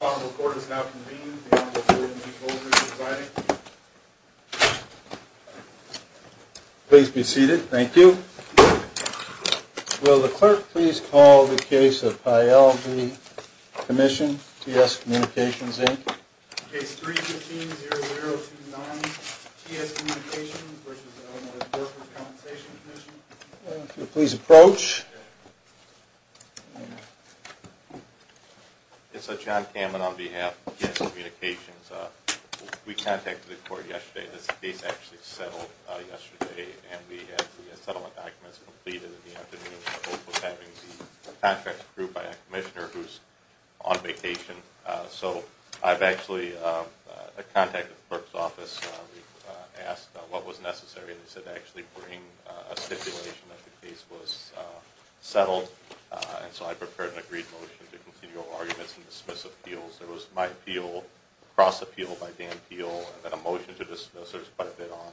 The Honorable Court has now convened. The Honorable Court and Chief Holder is presiding. Please be seated. Thank you. Will the Clerk please call the case of Payel v. Commission, T.S. Communications, Inc.? Case 3-15-0029, T.S. Communications, which is owned by the Workers' Compensation Commission. If you'll please approach. It's John Kamen on behalf of T.S. Communications. We contacted the court yesterday. This case actually settled yesterday, and we had the settlement documents completed in the afternoon. We're having the contract approved by a commissioner who's on vacation. So I've actually contacted the clerk's office. We asked what was necessary, and they said to actually bring a stipulation that the case was settled. And so I prepared an agreed motion to continue all arguments and dismiss appeals. There was my appeal, cross-appeal by Dan Peel, and then a motion to dismiss. There was quite a bit on.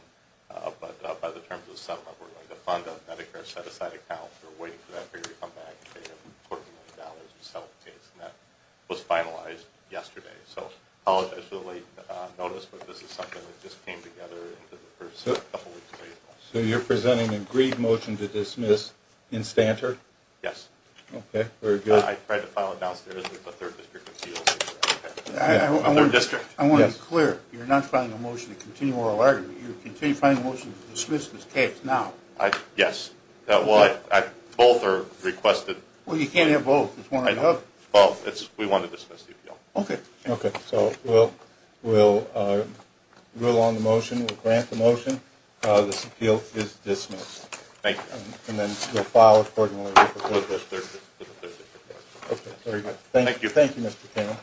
But by the terms of the settlement, we're going to fund a Medicare set-aside account. We're waiting for that figure to come back and pay him $14 million to settle the case. And that was finalized yesterday. So I apologize for the late notice, but this is something that just came together in the first couple weeks of April. So you're presenting an agreed motion to dismiss in Stanter? Yes. Okay, very good. I tried to file it downstairs with the 3rd District Appeals. The 3rd District? Yes. I want to be clear. You're not filing a motion to continue oral argument. You're continuing to file a motion to dismiss this case now. Yes. Well, both are requested. Well, you can't have both. Well, we want to dismiss the appeal. Okay, okay. So we'll rule on the motion. We'll grant the motion. This appeal is dismissed. Thank you. And then we'll file accordingly with the 3rd District. With the 3rd District. Okay, very good. Thank you. Thank you, Mr. Chairman.